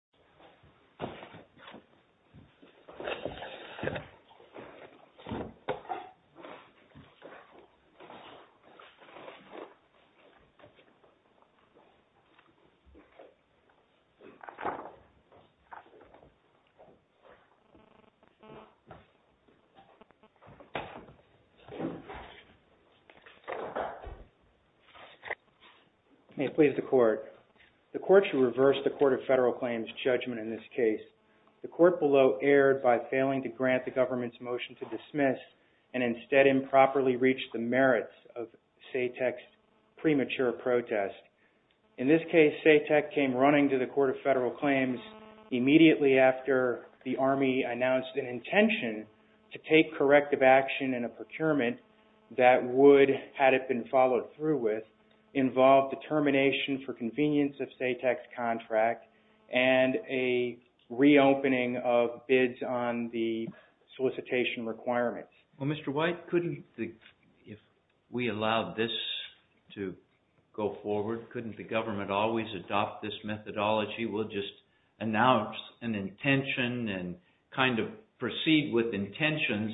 Court of Federal Claims, United States Court of Federal Claims, United States Court of Federal Claims. SATEC came running to the court of federal claims immediately after the Army announced an intention to take corrective action in a procurement that would, had it been followed reopening of bids on the solicitation requirements. Well, Mr. White, couldn't the, if we allowed this to go forward, couldn't the government always adopt this methodology? We'll just announce an intention and kind of proceed with intentions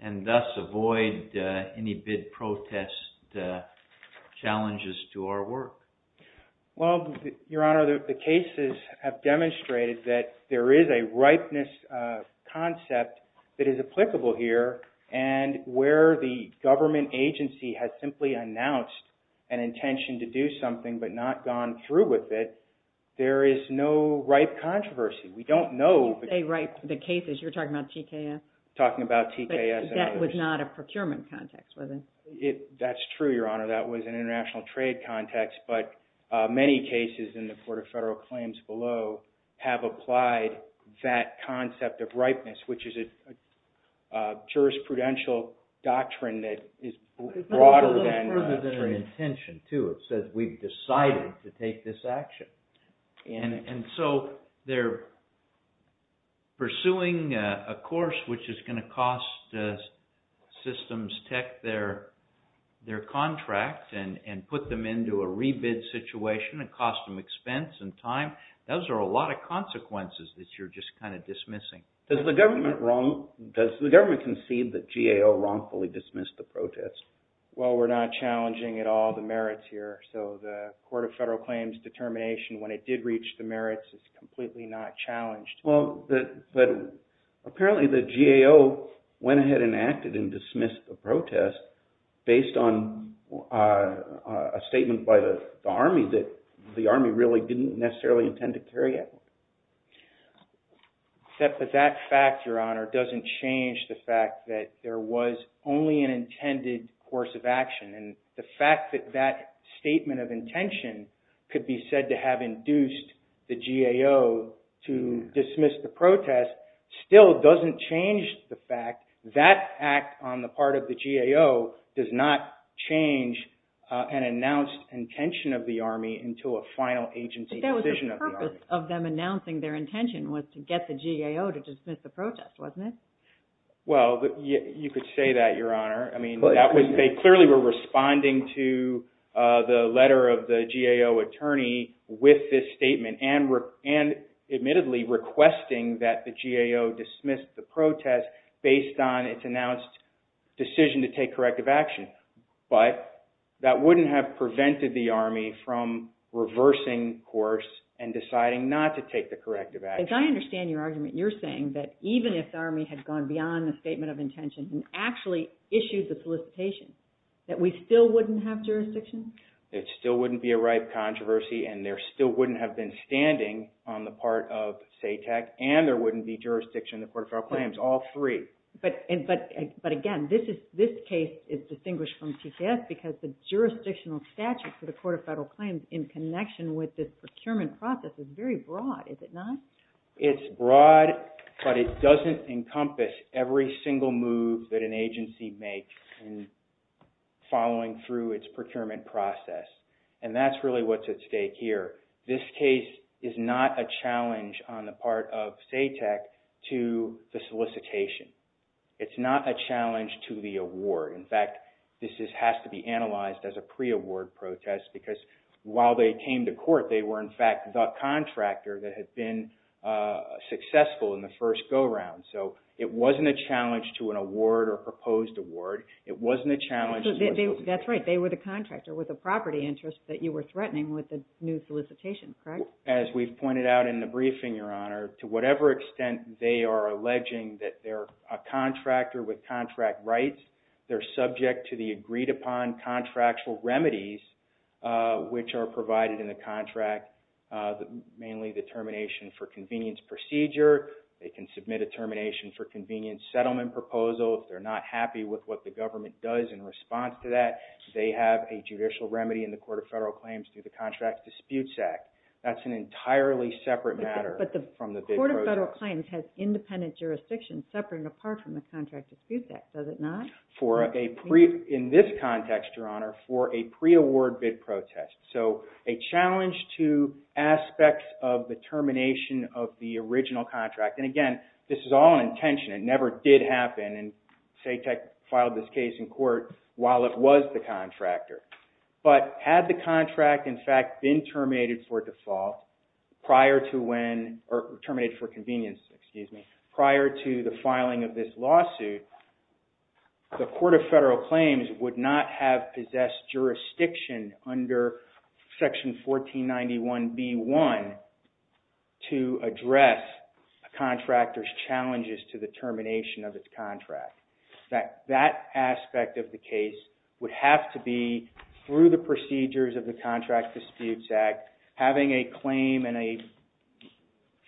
and thus avoid any bid protest challenges to our work. Well, Your Honor, the cases have demonstrated that there is a ripeness concept that is applicable here, and where the government agency has simply announced an intention to do something but not gone through with it, there is no ripe controversy. We don't know. When you say ripe, the cases, you're talking about TKS? Talking about TKS. But that was not a procurement context, was it? That's true, Your Honor, that was an international trade context, but many cases in the Court of Federal Claims below have applied that concept of ripeness, which is a jurisprudential doctrine that is broader than... It goes a little further than an intention, too. It says we've decided to take this action. And so they're pursuing a course which is going to cost systems tech their contract and put them into a rebid situation and cost them expense and time. Those are a lot of consequences that you're just kind of dismissing. Does the government concede that GAO wrongfully dismissed the protest? Well, we're not challenging at all the merits here, so the Court of Federal Claims determination when it did reach the merits is completely not challenged. Well, but apparently the GAO went ahead and acted and dismissed the protest based on a statement by the Army that the Army really didn't necessarily intend to carry out. That fact, Your Honor, doesn't change the fact that there was only an intended course of action, and the fact that that statement of intention could be said to have induced the GAO to dismiss the protest still doesn't change the fact that act on the part of the GAO does not change an announced intention of the Army into a final agency decision of the Army. But the purpose of them announcing their intention was to get the GAO to dismiss the protest, wasn't it? Well, you could say that, Your Honor. I mean, they clearly were responding to the letter of the GAO attorney with this statement and admittedly requesting that the GAO dismiss the protest based on its announced decision to take corrective action. But that wouldn't have prevented the Army from reversing course and deciding not to take the corrective action. As I understand your argument, you're saying that even if the Army had gone beyond the statement of intention and actually issued the solicitation, that we still wouldn't have jurisdiction? It still wouldn't be a ripe controversy and there still wouldn't have been standing on the part of SATEC and there wouldn't be jurisdiction in the Court of Filed Claims, all three. But again, this case is distinguished from TCS because the jurisdictional statute for the Court of Federal Claims in connection with this procurement process is very broad, is it not? It's broad, but it doesn't encompass every single move that an agency makes following through its procurement process. And that's really what's at stake here. This case is not a challenge on the part of SATEC to the solicitation. It's not a challenge to the award. In fact, this has to be analyzed as a pre-award protest because while they came to court, they were in fact the contractor that had been successful in the first go-round. So it wasn't a challenge to an award or proposed award. It wasn't a challenge... That's right, they were the contractor with the property interest that you were threatening with the new solicitation, correct? So as we've pointed out in the briefing, Your Honor, to whatever extent they are alleging that they're a contractor with contract rights, they're subject to the agreed upon contractual remedies which are provided in the contract, mainly the termination for convenience procedure. They can submit a termination for convenience settlement proposal if they're not happy with what the government does in response to that. They have a judicial remedy in the Court of Federal Claims that's an entirely separate matter from the bid protest. But the Court of Federal Claims has independent jurisdiction separate and apart from the contract dispute act, does it not? In this context, Your Honor, for a pre-award bid protest. So a challenge to aspects of the termination of the original contract. And again, this is all an intention. It never did happen and SATEC filed this case in court while it was the contractor. But had the contract in fact been terminated for convenience prior to the filing of this lawsuit, the Court of Federal Claims would not have possessed jurisdiction under section 1491B1 to address a contractor's challenges to the termination of its contract. That aspect of the case would have to be through the procedures of the Contract Disputes Act, having a claim and a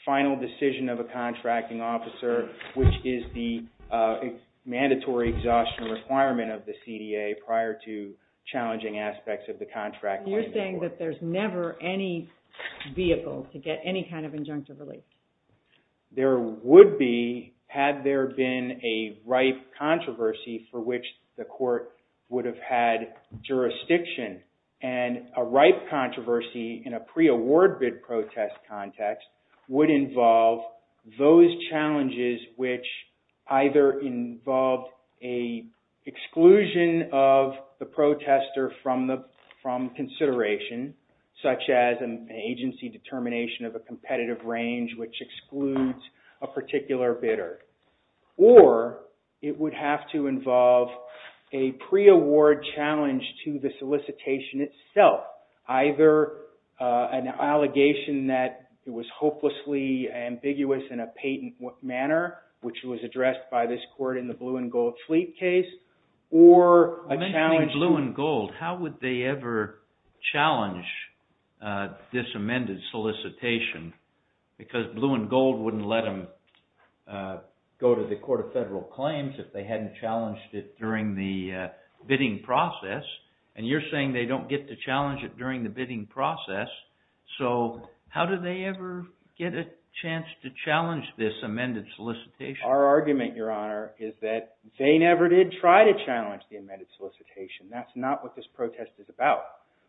final decision of a contracting officer, which is the mandatory exhaustion requirement of the CDA prior to challenging aspects of the contract. You're saying that there's never any vehicle to get any kind of injunctive relief? There would be, had there been a ripe controversy for which the court would have had jurisdiction. And a ripe controversy in a pre-award bid protest context would involve those challenges which either involved a exclusion of the protester from consideration, such as an agency determination of a competitive range which excludes a particular bidder, or it would have to involve a pre-award challenge to the solicitation itself. Either an allegation that it was hopelessly ambiguous in a patent manner, which was addressed by this court in the blue and gold fleet case, or a challenge... because blue and gold wouldn't let them go to the Court of Federal Claims if they hadn't challenged it during the bidding process, and you're saying they don't get to challenge it during the bidding process, so how do they ever get a chance to challenge this amended solicitation? Our argument, Your Honor, is that they never did try to challenge the amended solicitation. That's not what this protest is about.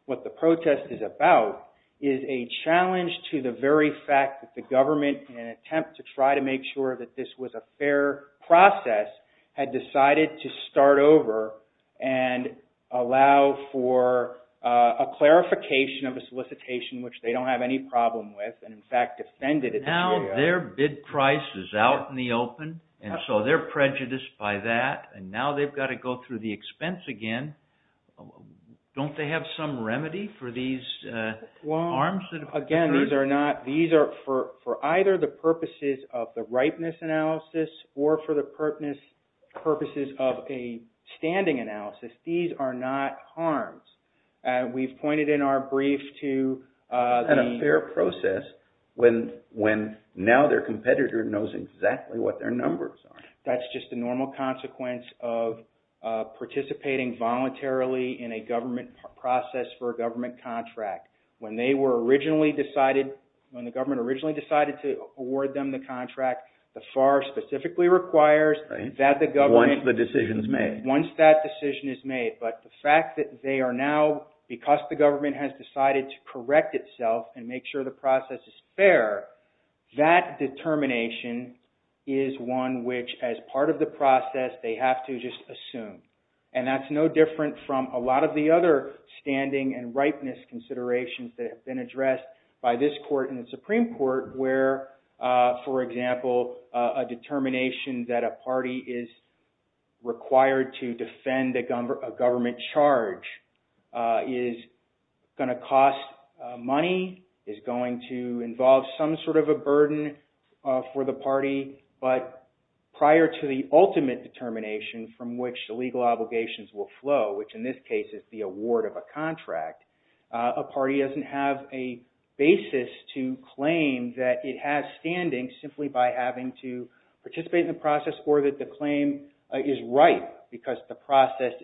What the protest is about is a challenge to the very fact that the government, in an attempt to try to make sure that this was a fair process, had decided to start over and allow for a clarification of a solicitation which they don't have any problem with, and in fact defended it. Now their bid price is out in the open, and so they're prejudiced by that, and now they've got to go through the expense again. Don't they have some remedy for these harms? Again, these are not... these are for either the purposes of the ripeness analysis or for the purposes of a standing analysis. These are not harms. We've pointed in our brief to... It's not a fair process when now their competitor knows exactly what their numbers are. That's just the normal consequence of participating voluntarily in a government process for a government contract. When they were originally decided... when the government originally decided to award them the contract, the FAR specifically requires that the government... Once the decision's made. Once that decision is made, but the fact that they are now... because the government has decided to as part of the process, they have to just assume. And that's no different from a lot of the other standing and ripeness considerations that have been addressed by this court and the Supreme Court where, for example, a determination that a party is required to defend a government charge is going to cost money, is going to involve some sort of a burden for the party, but prior to the ultimate determination from which the legal obligations will flow, which in this case is the award of a contract, a party doesn't have a basis to claim that it has standing simply by having to participate in the process or that the claim is ripe because the TKS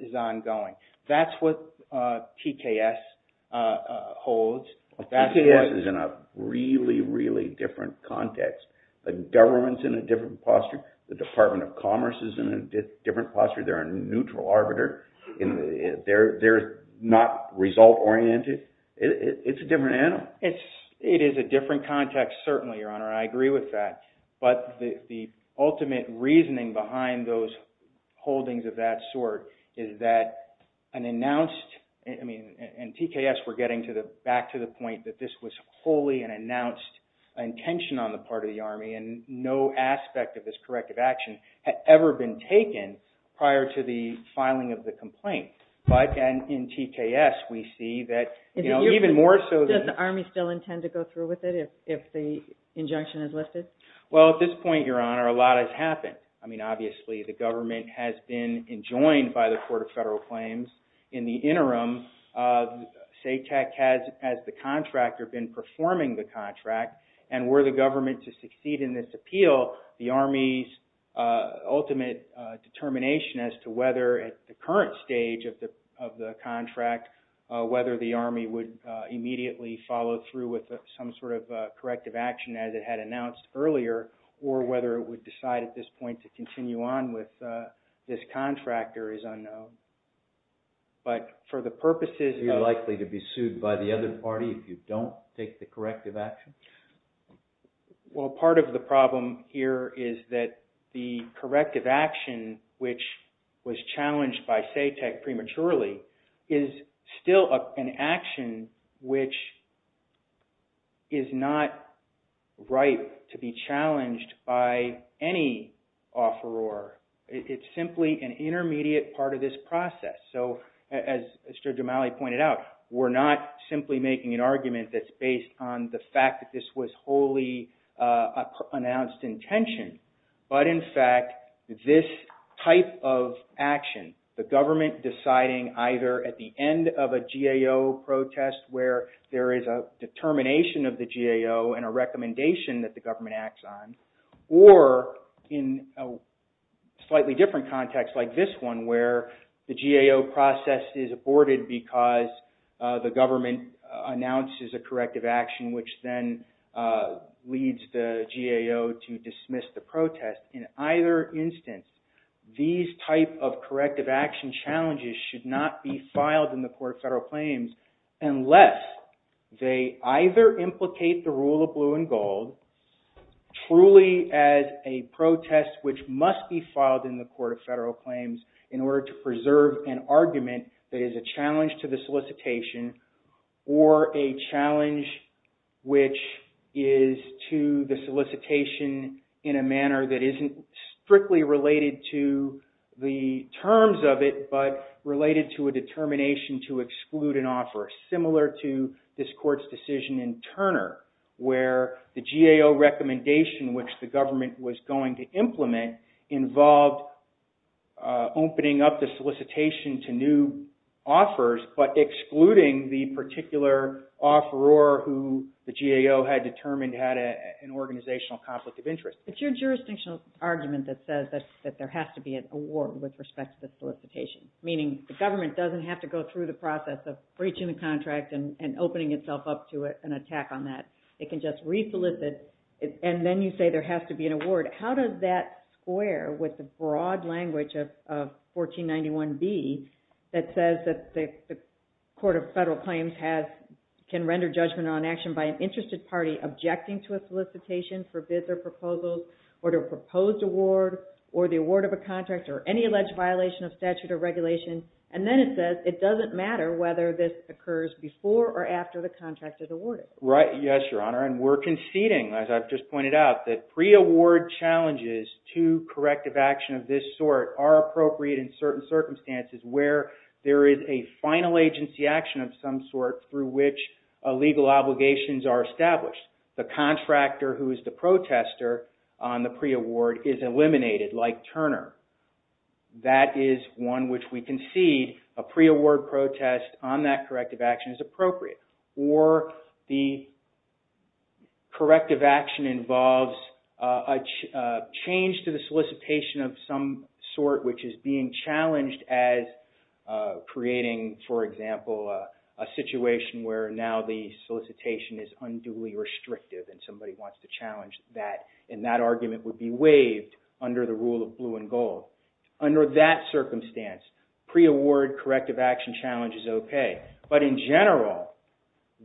is in a really, really different context. The government's in a different posture. The Department of Commerce is in a different posture. They're a neutral arbiter. They're not result-oriented. It's a different animal. It is a different context, certainly, Your Honor. I agree with that. But the ultimate reasoning behind those intentions on the part of the Army and no aspect of this corrective action had ever been taken prior to the filing of the complaint. But in TKS, we see that even more so than... Does the Army still intend to go through with it if the injunction is lifted? Well, at this point, Your Honor, a lot has happened. I mean, obviously, the government has been enjoined by the contractor, been performing the contract. And were the government to succeed in this appeal, the Army's ultimate determination as to whether at the current stage of the contract, whether the Army would immediately follow through with some sort of corrective action as it had announced earlier or whether it would decide at this point to continue on with this if you don't take the corrective action? Well, part of the problem here is that the corrective action, which was challenged by SATEC prematurely, is still an action, which is not right to be challenged by any offeror. It's simply an intermediate part of this process. So as Judge O'Malley pointed out, we're not simply making an argument that's based on the fact that this was wholly announced intention, but in fact, this type of action, the government deciding either at the end of a GAO protest where there is a determination of the GAO and a recommendation that the government acts on or in a slightly different context like this one where the GAO process is aborted because the government announces a corrective action which then leads the GAO to dismiss the protest. In either instance, these type of corrective action challenges should not be filed in the Court of Federal Claims unless they either implicate the rule of blue and gold truly as a protest which must be filed in the Court of Federal Claims in order to preserve an argument that is a challenge to the solicitation or a challenge which is to the solicitation in a manner that isn't strictly related to the terms of it, but related to a determination to exclude an offer similar to this Court's decision in Turner where the GAO solicitation to new offers but excluding the particular offeror who the GAO had determined had an organizational conflict of interest. It's your jurisdictional argument that says that there has to be an award with respect to the solicitation, meaning the government doesn't have to go through the process of breaching the contract and opening itself up to an attack on that. It can just re-solicit and then you say there has to be an award. How does that square with the broad language of 1491B that says that the Court of Federal Claims can render judgment on action by an interested party objecting to a solicitation, forbid their proposals, order a proposed award or the award of a contract or any alleged violation of statute or regulation, and then it says it doesn't matter whether this occurs before or after the contract is awarded. Yes, Your Honor, and we're conceding, as I've just pointed out, that pre-award challenges to corrective action of this sort are appropriate in certain circumstances where there is a final agency action of some sort through which legal obligations are established. The contractor who is the protester on the pre-award is eliminated like Turner. That is one which we concede a pre-award protest on that corrective action is appropriate. Or the corrective action involves a change to the solicitation of some sort which is being challenged as creating, for example, a situation where now the solicitation is unduly restrictive and somebody wants to challenge that and that argument would be waived under the rule of blue and gold. Under that circumstance, pre-award corrective action challenge is okay. But in general,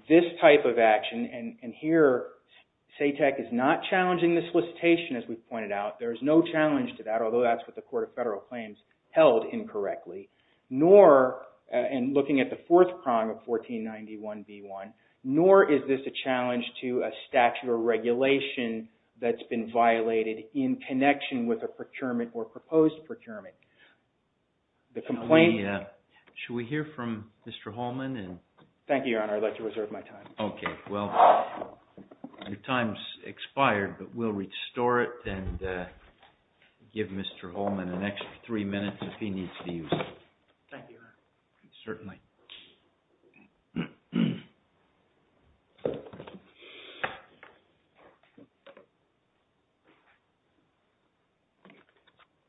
this type of action, and here SATEC is not challenging the solicitation as we've pointed out. There is no challenge to that, although that's what the Court of Federal Claims held incorrectly, nor, and looking at the Should we hear from Mr. Holman? Thank you, Your Honor. I'd like to reserve my time. Okay. Well, your time's expired, but we'll restore it and give Mr. Holman an extra three minutes if he needs to use it. Thank you, Your Honor. Certainly.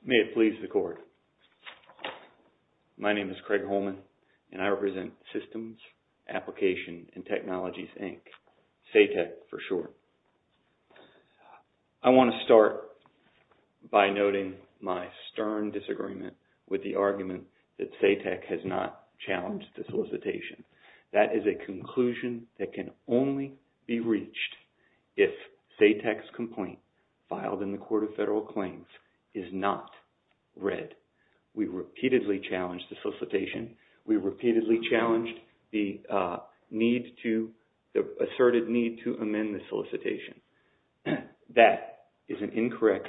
May it please the Court. My name is Craig Holman, and I represent Systems, Applications, and Technologies, Inc., SATEC for short. I want to start by noting my stern disagreement with the argument that SATEC has not challenged the solicitation. That is a conclusion that can only be reached if SATEC's complaint filed in the Court of Federal Claims is not read. We repeatedly challenged the solicitation. We repeatedly challenged the need to, the asserted need to amend the solicitation. That is an incorrect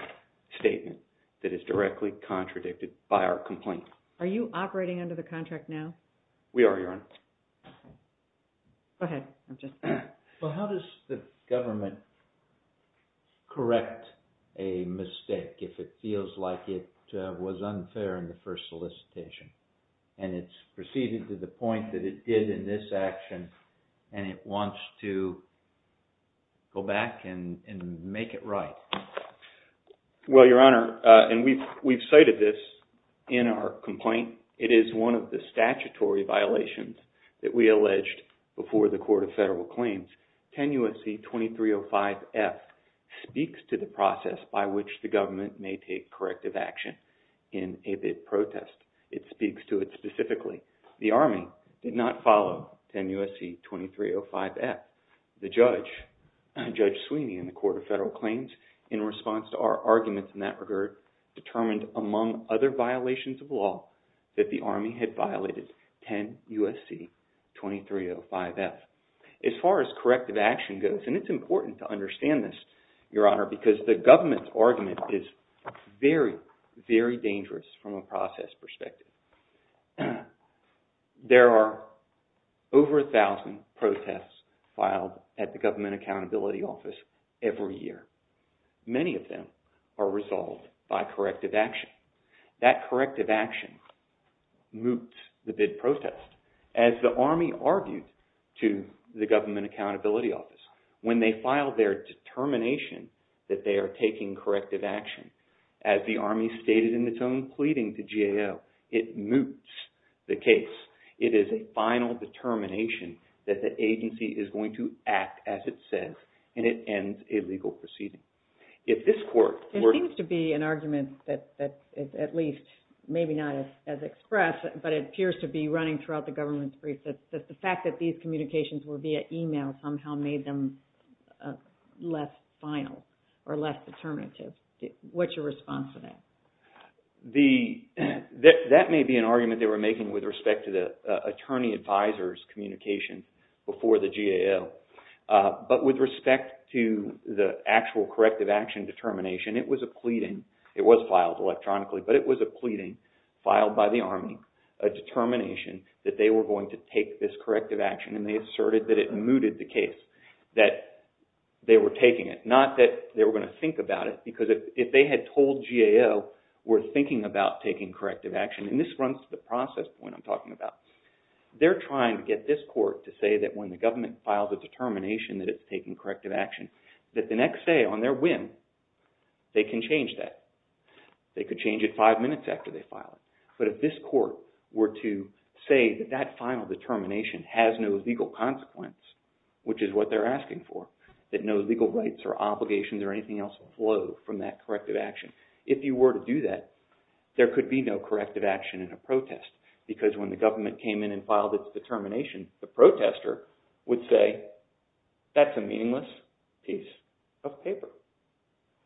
statement that is directly contradicted by our complaint. Are you operating under the contract now? We are, Your Honor. Go ahead. Well, how does the government correct a mistake if it feels like it was unfair in the first solicitation, and it's proceeded to the point that it did in this action, and it wants to go back and make it right? Well, Your Honor, and we've cited this in our complaint. It is one of the statutory violations that we alleged before the Court of Federal Claims. 10 U.S.C. 2305F speaks to the process by which the government may take corrective action in a bid protest. It speaks to it specifically. The Army did not follow 10 U.S.C. 2305F. The judge, Judge Sweeney in the Court of Federal Claims, in response to our arguments in that regard, determined among other violations of law that the Army had violated 10 U.S.C. 2305F. As far as corrective action goes, and it's important to understand this, Your Honor, because the government's argument is very, very dangerous from a process perspective. There are over 1,000 protests filed at the Government Accountability Office every year. Many of them are resolved by corrective action. That corrective action moots the bid protest. As the Army argued to the Government Accountability Office, when they filed their determination that they are taking corrective action, as the Army stated in its own pleading to GAO, it moots the case. It is a final determination that the agency is going to act as it says, and it ends a legal proceeding. If this court were to... There seems to be an argument that is at least maybe not as expressed, but it appears to be running throughout the government's brief, that the fact that these communications were via e-mail somehow made them less final or less determinative. What's your response to that? That may be an argument they were making with respect to the attorney-advisor's communication before the GAO. But with respect to the actual corrective action determination, it was a pleading. It was filed electronically, but it was a pleading filed by the Army, a determination that they were going to take this corrective action, and they asserted that it mooted the case, that they were taking it. Not that they were going to think about it, because if they had told GAO we're thinking about taking corrective action, and this runs to the process point I'm talking about, they're trying to get this court to say that when the government files a determination that it's taking corrective action, that the next day on their whim, they can change that. They could change it five minutes after they file it. But if this court were to say that that final determination has no legal consequence, which is what they're asking for, that no legal rights or obligations or anything else flow from that corrective action, if you were to do that, there could be no corrective action in a protest, because when the government came in and filed its determination, the protester would say, that's a meaningless piece of paper.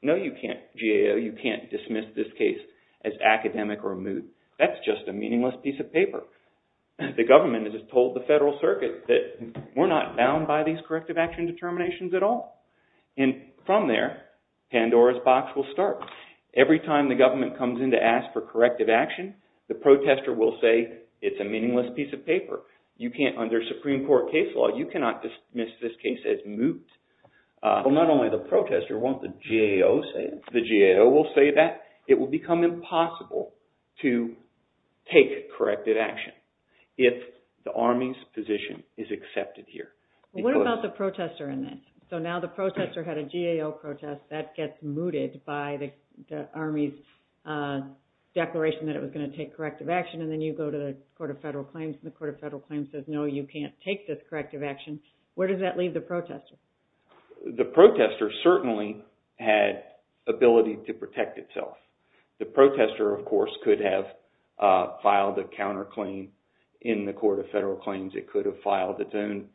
No, you can't, GAO, you can't dismiss this case as academic or moot. That's just a meaningless piece of paper. The government has just told the Federal Circuit that we're not bound by these corrective action determinations at all. And from there, Pandora's box will start. Every time the government comes in to ask for corrective action, the protester will say, it's a meaningless piece of paper. You can't, under Supreme Court case law, you cannot dismiss this case as moot. Well, not only the protester, won't the GAO say it? The GAO will say that. It will become impossible to take corrective action if the Army's position is accepted here. What about the protester in this? So now the protester had a GAO protest, that gets mooted by the Army's declaration that it was going to take corrective action, and then you go to the Court of Federal Claims, and the Court of Federal Claims says, no, you can't take this corrective action. Where does that leave the protester? The protester certainly had ability to protect itself. The protester, of course, could have filed a counterclaim in the Court of Federal Claims. It could have filed its own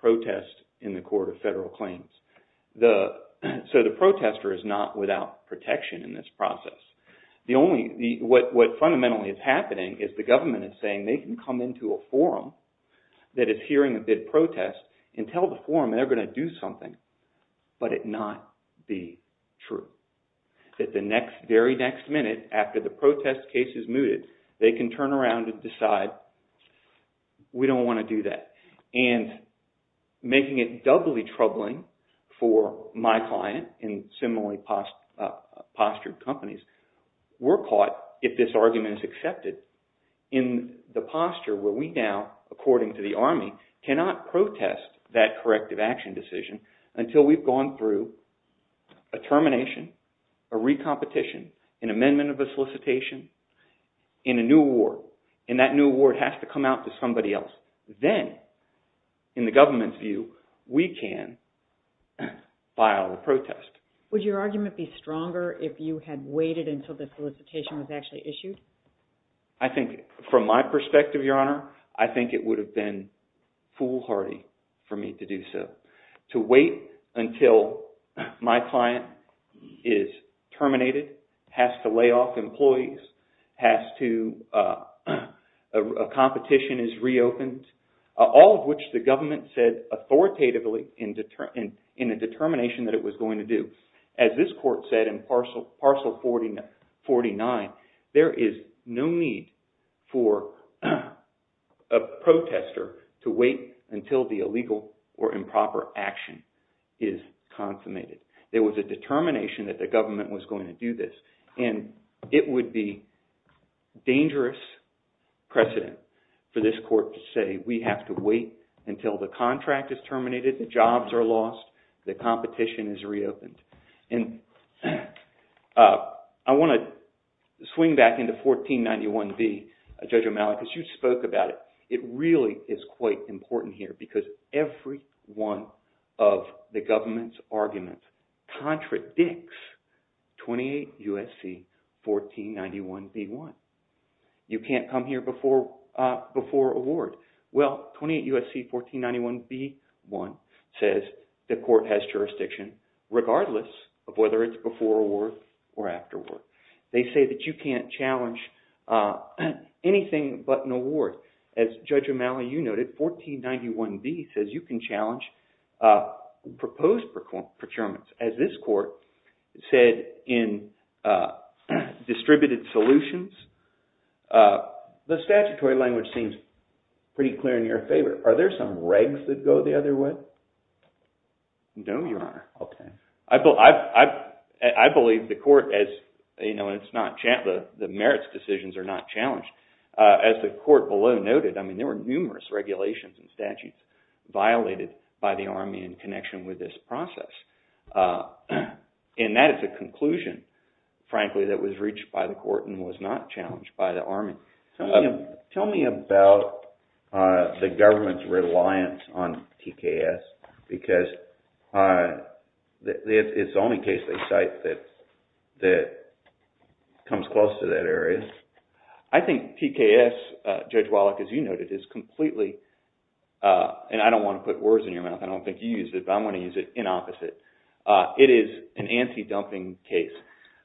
protest in the Court of Federal Claims. So the protester is not without protection in this process. What fundamentally is happening is the government is saying, they can come into a forum that is hearing a bid protest and tell the forum they're going to do something, but it not be true. That the very next minute after the protest case is mooted, they can turn around and decide, we don't want to do that. And making it doubly troubling for my client and similarly postured companies, we're caught, if this argument is accepted, in the posture where we now, according to the Army, cannot protest that corrective action decision until we've gone through a termination, a recompetition, an amendment of a solicitation, and a new award. And that new award has to come out to somebody else. Then, in the government's view, we can file a protest. Would your argument be stronger if you had waited until the solicitation was actually issued? I think, from my perspective, Your Honor, I think it would have been foolhardy for me to do so. To wait until my client is terminated, has to lay off employees, a competition is reopened, all of which the government said authoritatively in the determination that it was going to do. As this court said in Parcel 49, there is no need for a protester to wait until the illegal or improper action is consummated. There was a determination that the government was going to do this, and it would be dangerous precedent for this court to say we have to wait until the contract is terminated, the jobs are lost, the competition is reopened. And I want to swing back into 1491B, Judge O'Malley, because you spoke about it. It really is quite important here because every one of the government's arguments contradicts 28 U.S.C. 1491B-1. You can't come here before award. Well, 28 U.S.C. 1491B-1 says the court has jurisdiction regardless of whether it's before award or afterward. They say that you can't challenge anything but an award. As Judge O'Malley, you noted, 1491B says you can challenge proposed procurements. As this court said in Distributed Solutions, the statutory language seems pretty clear in your favor. Are there some regs that go the other way? No, Your Honor. I believe the court, the merits decisions are not challenged. As the court below noted, there were numerous regulations and statutes violated by the Army in connection with this process. And that is a conclusion, frankly, that was reached by the court and was not challenged by the Army. Tell me about the government's reliance on TKS because it's the only case they cite that comes close to that area. I think TKS, Judge Wallach, as you noted, is completely, and I don't want to put words in your mouth, I don't think you used it, but I'm going to use it in opposite. It is an anti-dumping case.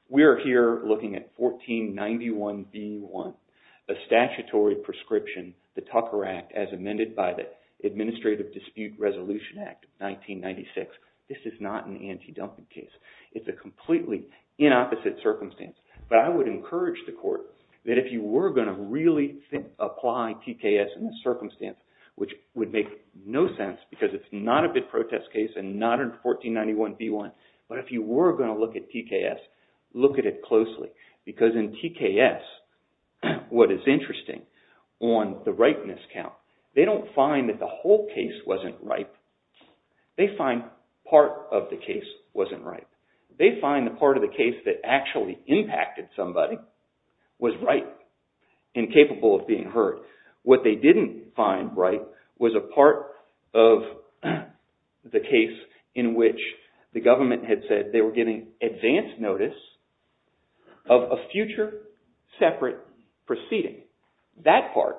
We are here looking at 1491B1, a statutory prescription, the Tucker Act, as amended by the Administrative Dispute Resolution Act of 1996. This is not an anti-dumping case. It's a completely in opposite circumstance. But I would encourage the court that if you were going to really apply TKS in this circumstance, which would make no sense because it's not a bid protest case and not in 1491B1, but if you were going to look at TKS, look at it closely because in TKS, what is interesting on the ripeness count, they don't find that the whole case wasn't ripe. They find part of the case wasn't ripe. They find the part of the case that actually impacted somebody was ripe and capable of being heard. What they didn't find ripe was a part of the case in which the government had said they were giving advance notice of a future separate proceeding. That part,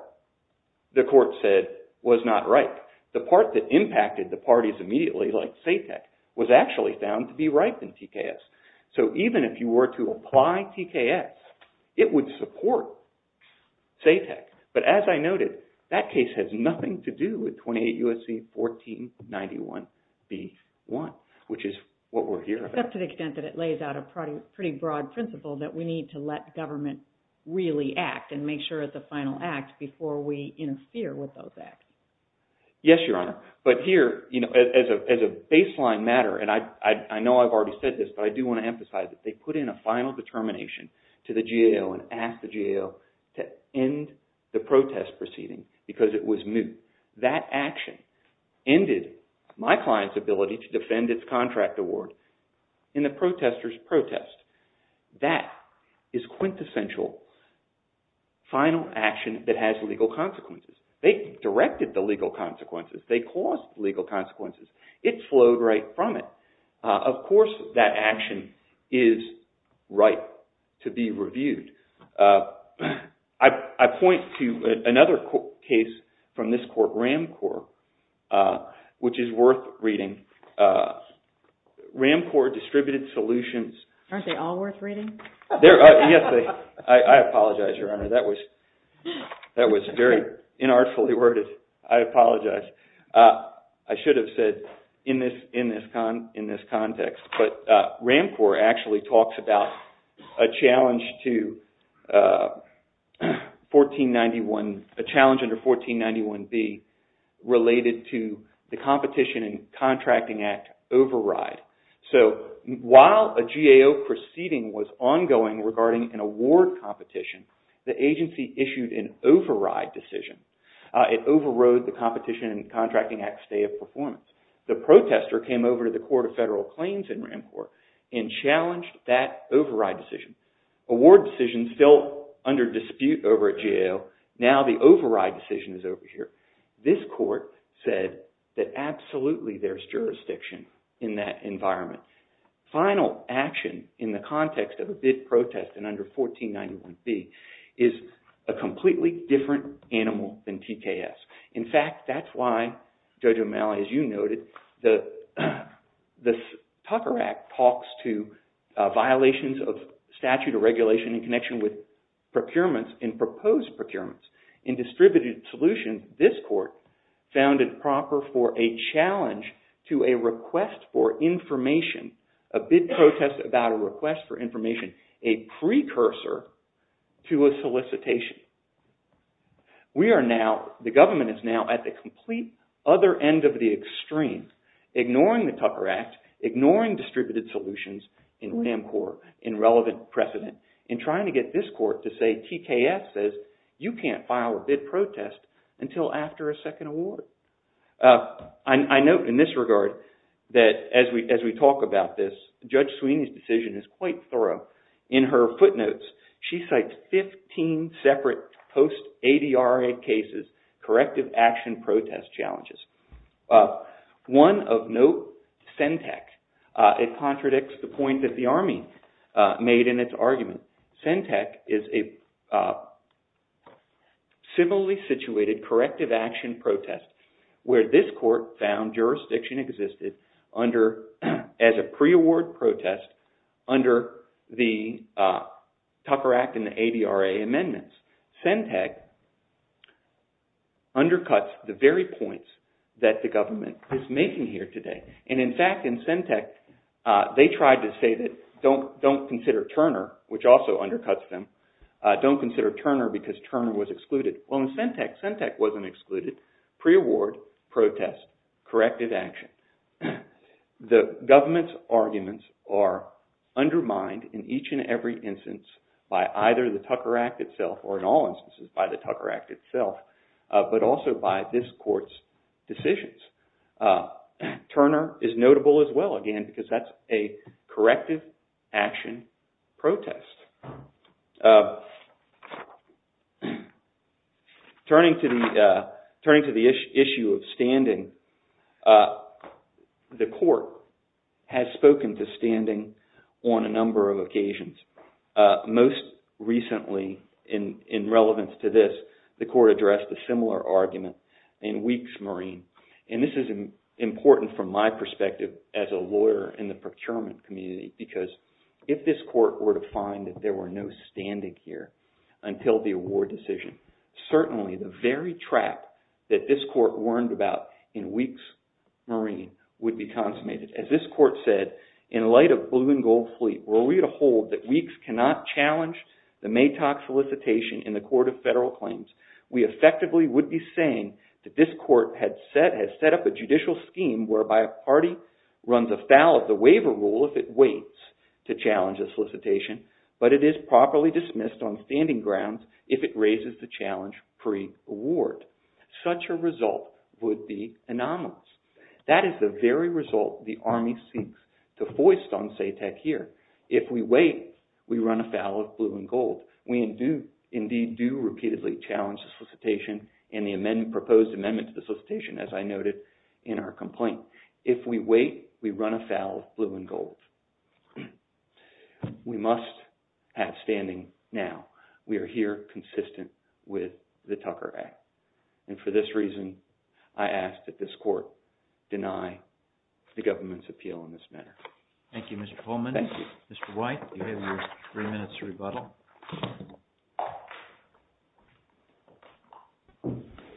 the court said, was not ripe. The part that impacted the parties immediately, like SATEC, was actually found to be ripe in TKS. So even if you were to apply TKS, it would support SATEC. But as I noted, that case has nothing to do with 28 U.S.C. 1491B1, which is what we're here about. But up to the extent that it lays out a pretty broad principle that we need to let government really act and make sure it's a final act before we interfere with those acts. Yes, Your Honor. But here, as a baseline matter, and I know I've already said this, but I do want to emphasize it. They put in a final determination to the GAO and asked the GAO to end the protest proceeding because it was moot. That action ended my client's ability to defend its contract award in the protester's protest. That is quintessential final action that has legal consequences. They directed the legal consequences. They caused legal consequences. It flowed right from it. Of course, that action is ripe to be reviewed. I point to another case from this court, Ram Corps, which is worth reading. Ram Corps distributed solutions. Aren't they all worth reading? I apologize, Your Honor. That was very inartfully worded. I apologize. I should have said in this context. But Ram Corps actually talks about a challenge under 1491B related to the Competition and Contracting Act override. So while a GAO proceeding was ongoing regarding an award competition, the agency issued an override decision. It overrode the Competition and Contracting Act stay of performance. The protester came over to the Court of Federal Claims in Ram Corps and challenged that override decision. Award decisions still under dispute over at GAO. Now the override decision is over here. This court said that absolutely there's jurisdiction in that environment. Final action in the context of a bid protest and under 1491B is a completely different animal than TKS. In fact, that's why Judge O'Malley, as you noted, the Tucker Act talks to violations of statute or regulation in connection with procurements, in proposed procurements. In distributed solutions, this court found it proper for a challenge to a request for information, a bid protest about a request for information, a precursor to a solicitation. We are now – the government is now at the complete other end of the extreme, ignoring the Tucker Act, ignoring distributed solutions in Ram Corps, in relevant precedent, in trying to get this court to say TKS says you can't file a bid protest until after a second award. I note in this regard that as we talk about this, Judge Sweeney's decision is quite thorough. In her footnotes, she cites 15 separate post-ADRA cases, corrective action protest challenges. One of note, Sentech, it contradicts the point that the Army made in its argument. Sentech is a civilly situated corrective action protest where this court found jurisdiction existed under – as a pre-award protest under the Tucker Act and the ADRA amendments. Sentech undercuts the very points that the government is making here today. In fact, in Sentech, they tried to say that don't consider Turner, which also undercuts them, don't consider Turner because Turner was excluded. Well, in Sentech, Sentech wasn't excluded. Pre-award protest, corrective action. The government's arguments are undermined in each and every instance by either the Tucker Act itself or in all instances by the Tucker Act itself, but also by this court's decisions. Turner is notable as well, again, because that's a corrective action protest. Turning to the issue of standing, the court has spoken to standing on a number of occasions. Most recently, in relevance to this, the court addressed a similar argument in Weeks Marine. This is important from my perspective as a lawyer in the procurement community because if this court were to find that there were no standing here until the award decision, certainly the very trap that this court warned about in Weeks Marine would be consummated. As this court said, in light of Blue and Gold Fleet, were we to hold that Weeks cannot challenge the Maytock solicitation in the Court of Federal Claims, we effectively would be saying that this court has set up a judicial scheme whereby a party runs afoul of the waiver rule if it waits to challenge a solicitation, but it is properly dismissed on standing grounds if it raises the challenge pre-award. Such a result would be anomalous. That is the very result the Army seeks to foist on SATEC here. If we wait, we run afoul of Blue and Gold. We indeed do repeatedly challenge the solicitation and the proposed amendment to the solicitation, as I noted in our complaint. If we wait, we run afoul of Blue and Gold. We must have standing now. We are here consistent with the Tucker Act. And for this reason, I ask that this court deny the government's appeal in this matter. Thank you, Mr. Pullman. Mr. White, you have your three minutes to rebuttal. I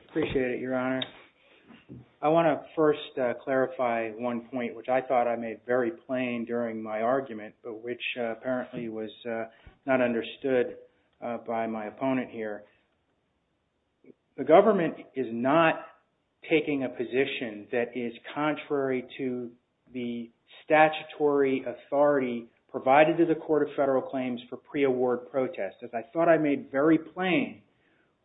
appreciate it, Your Honor. I want to first clarify one point, which I thought I made very plain during my argument, but which apparently was not understood by my opponent here. The government is not taking a position that is contrary to the statutory authority provided to the Court of Federal Claims for pre-award protest. As I thought I made very plain,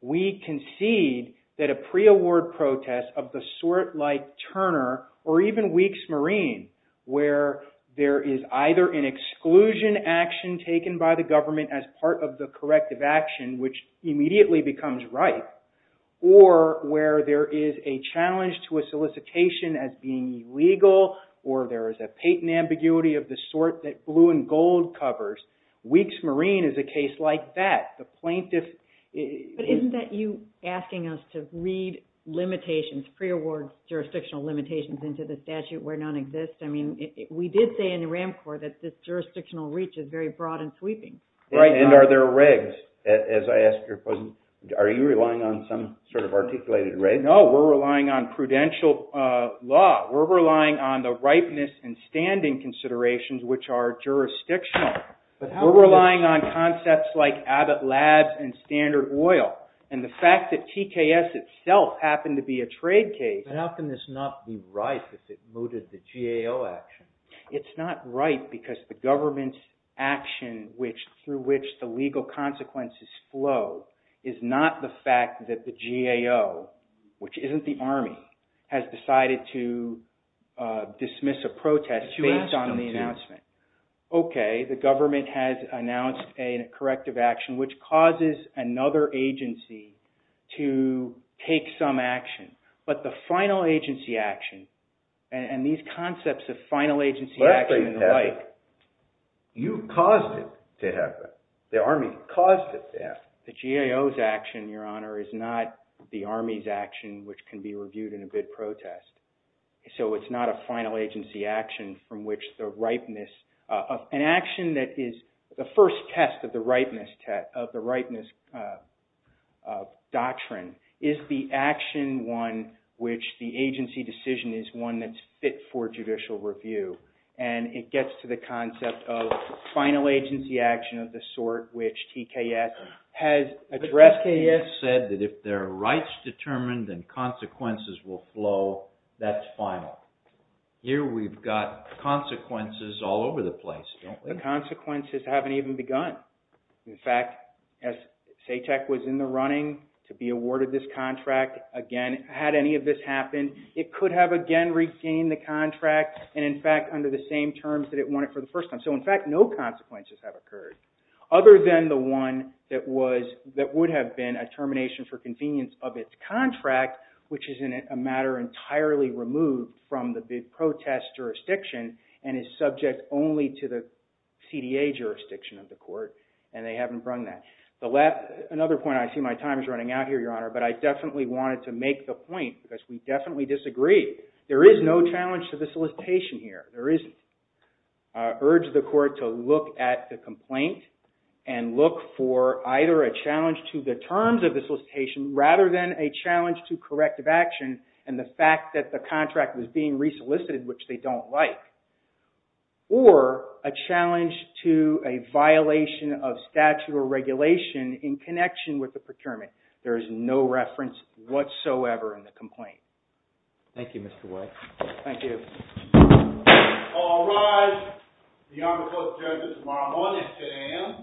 we concede that a pre-award protest of the sort like Turner or even Weeks Marine, where there is either an exclusion action taken by the government as part of the corrective action, which immediately becomes right, or where there is a challenge to a solicitation as being illegal or there is a patent ambiguity of the sort that Blue and Gold covers, Weeks Marine is a case like that. But isn't that you asking us to read limitations, pre-award jurisdictional limitations into the statute where none exists? I mean, we did say in the RAMCOR that this jurisdictional reach is very broad and sweeping. And are there regs? Are you relying on some sort of articulated reg? No, we're relying on prudential law. We're relying on the ripeness and standing considerations, which are jurisdictional. We're relying on concepts like Abbott Labs and Standard Oil. And the fact that TKS itself happened to be a trade case... But how can this not be right if it mooted the GAO action? It's not right because the government's action through which the legal consequences flow is not the fact that the GAO, which isn't the Army, has decided to dismiss a protest based on the announcement. Okay, the government has announced a corrective action which causes another agency to take some action. But the final agency action and these concepts of final agency action and the like... You caused it to happen. The Army caused it to happen. The GAO's action, Your Honor, is not the Army's action which can be reviewed in a bid protest. So it's not a final agency action from which the ripeness... An action that is the first test of the ripeness doctrine is the action one which the agency decision is one that's fit for judicial review. And it gets to the concept of final agency action of the sort which TKS has addressed... ...that if there are rights determined and consequences will flow, that's final. Here we've got consequences all over the place, don't we? The consequences haven't even begun. In fact, as SATEC was in the running to be awarded this contract, again, had any of this happened, it could have again regained the contract. And in fact, under the same terms that it wanted for the first time. So in fact, no consequences have occurred other than the one that would have been a termination for convenience of its contract... ...which is in a matter entirely removed from the bid protest jurisdiction and is subject only to the CDA jurisdiction of the court. And they haven't run that. Another point, I see my time is running out here, Your Honor, but I definitely wanted to make the point because we definitely disagree. There is no challenge to the solicitation here. There isn't. I urge the court to look at the complaint and look for either a challenge to the terms of the solicitation... ...rather than a challenge to corrective action and the fact that the contract was being re-solicited, which they don't like. Or a challenge to a violation of statute or regulation in connection with the procurement. There is no reference whatsoever in the complaint. Thank you, Mr. White. Thank you. All rise. The Honorable Court of Judges is now on its stand.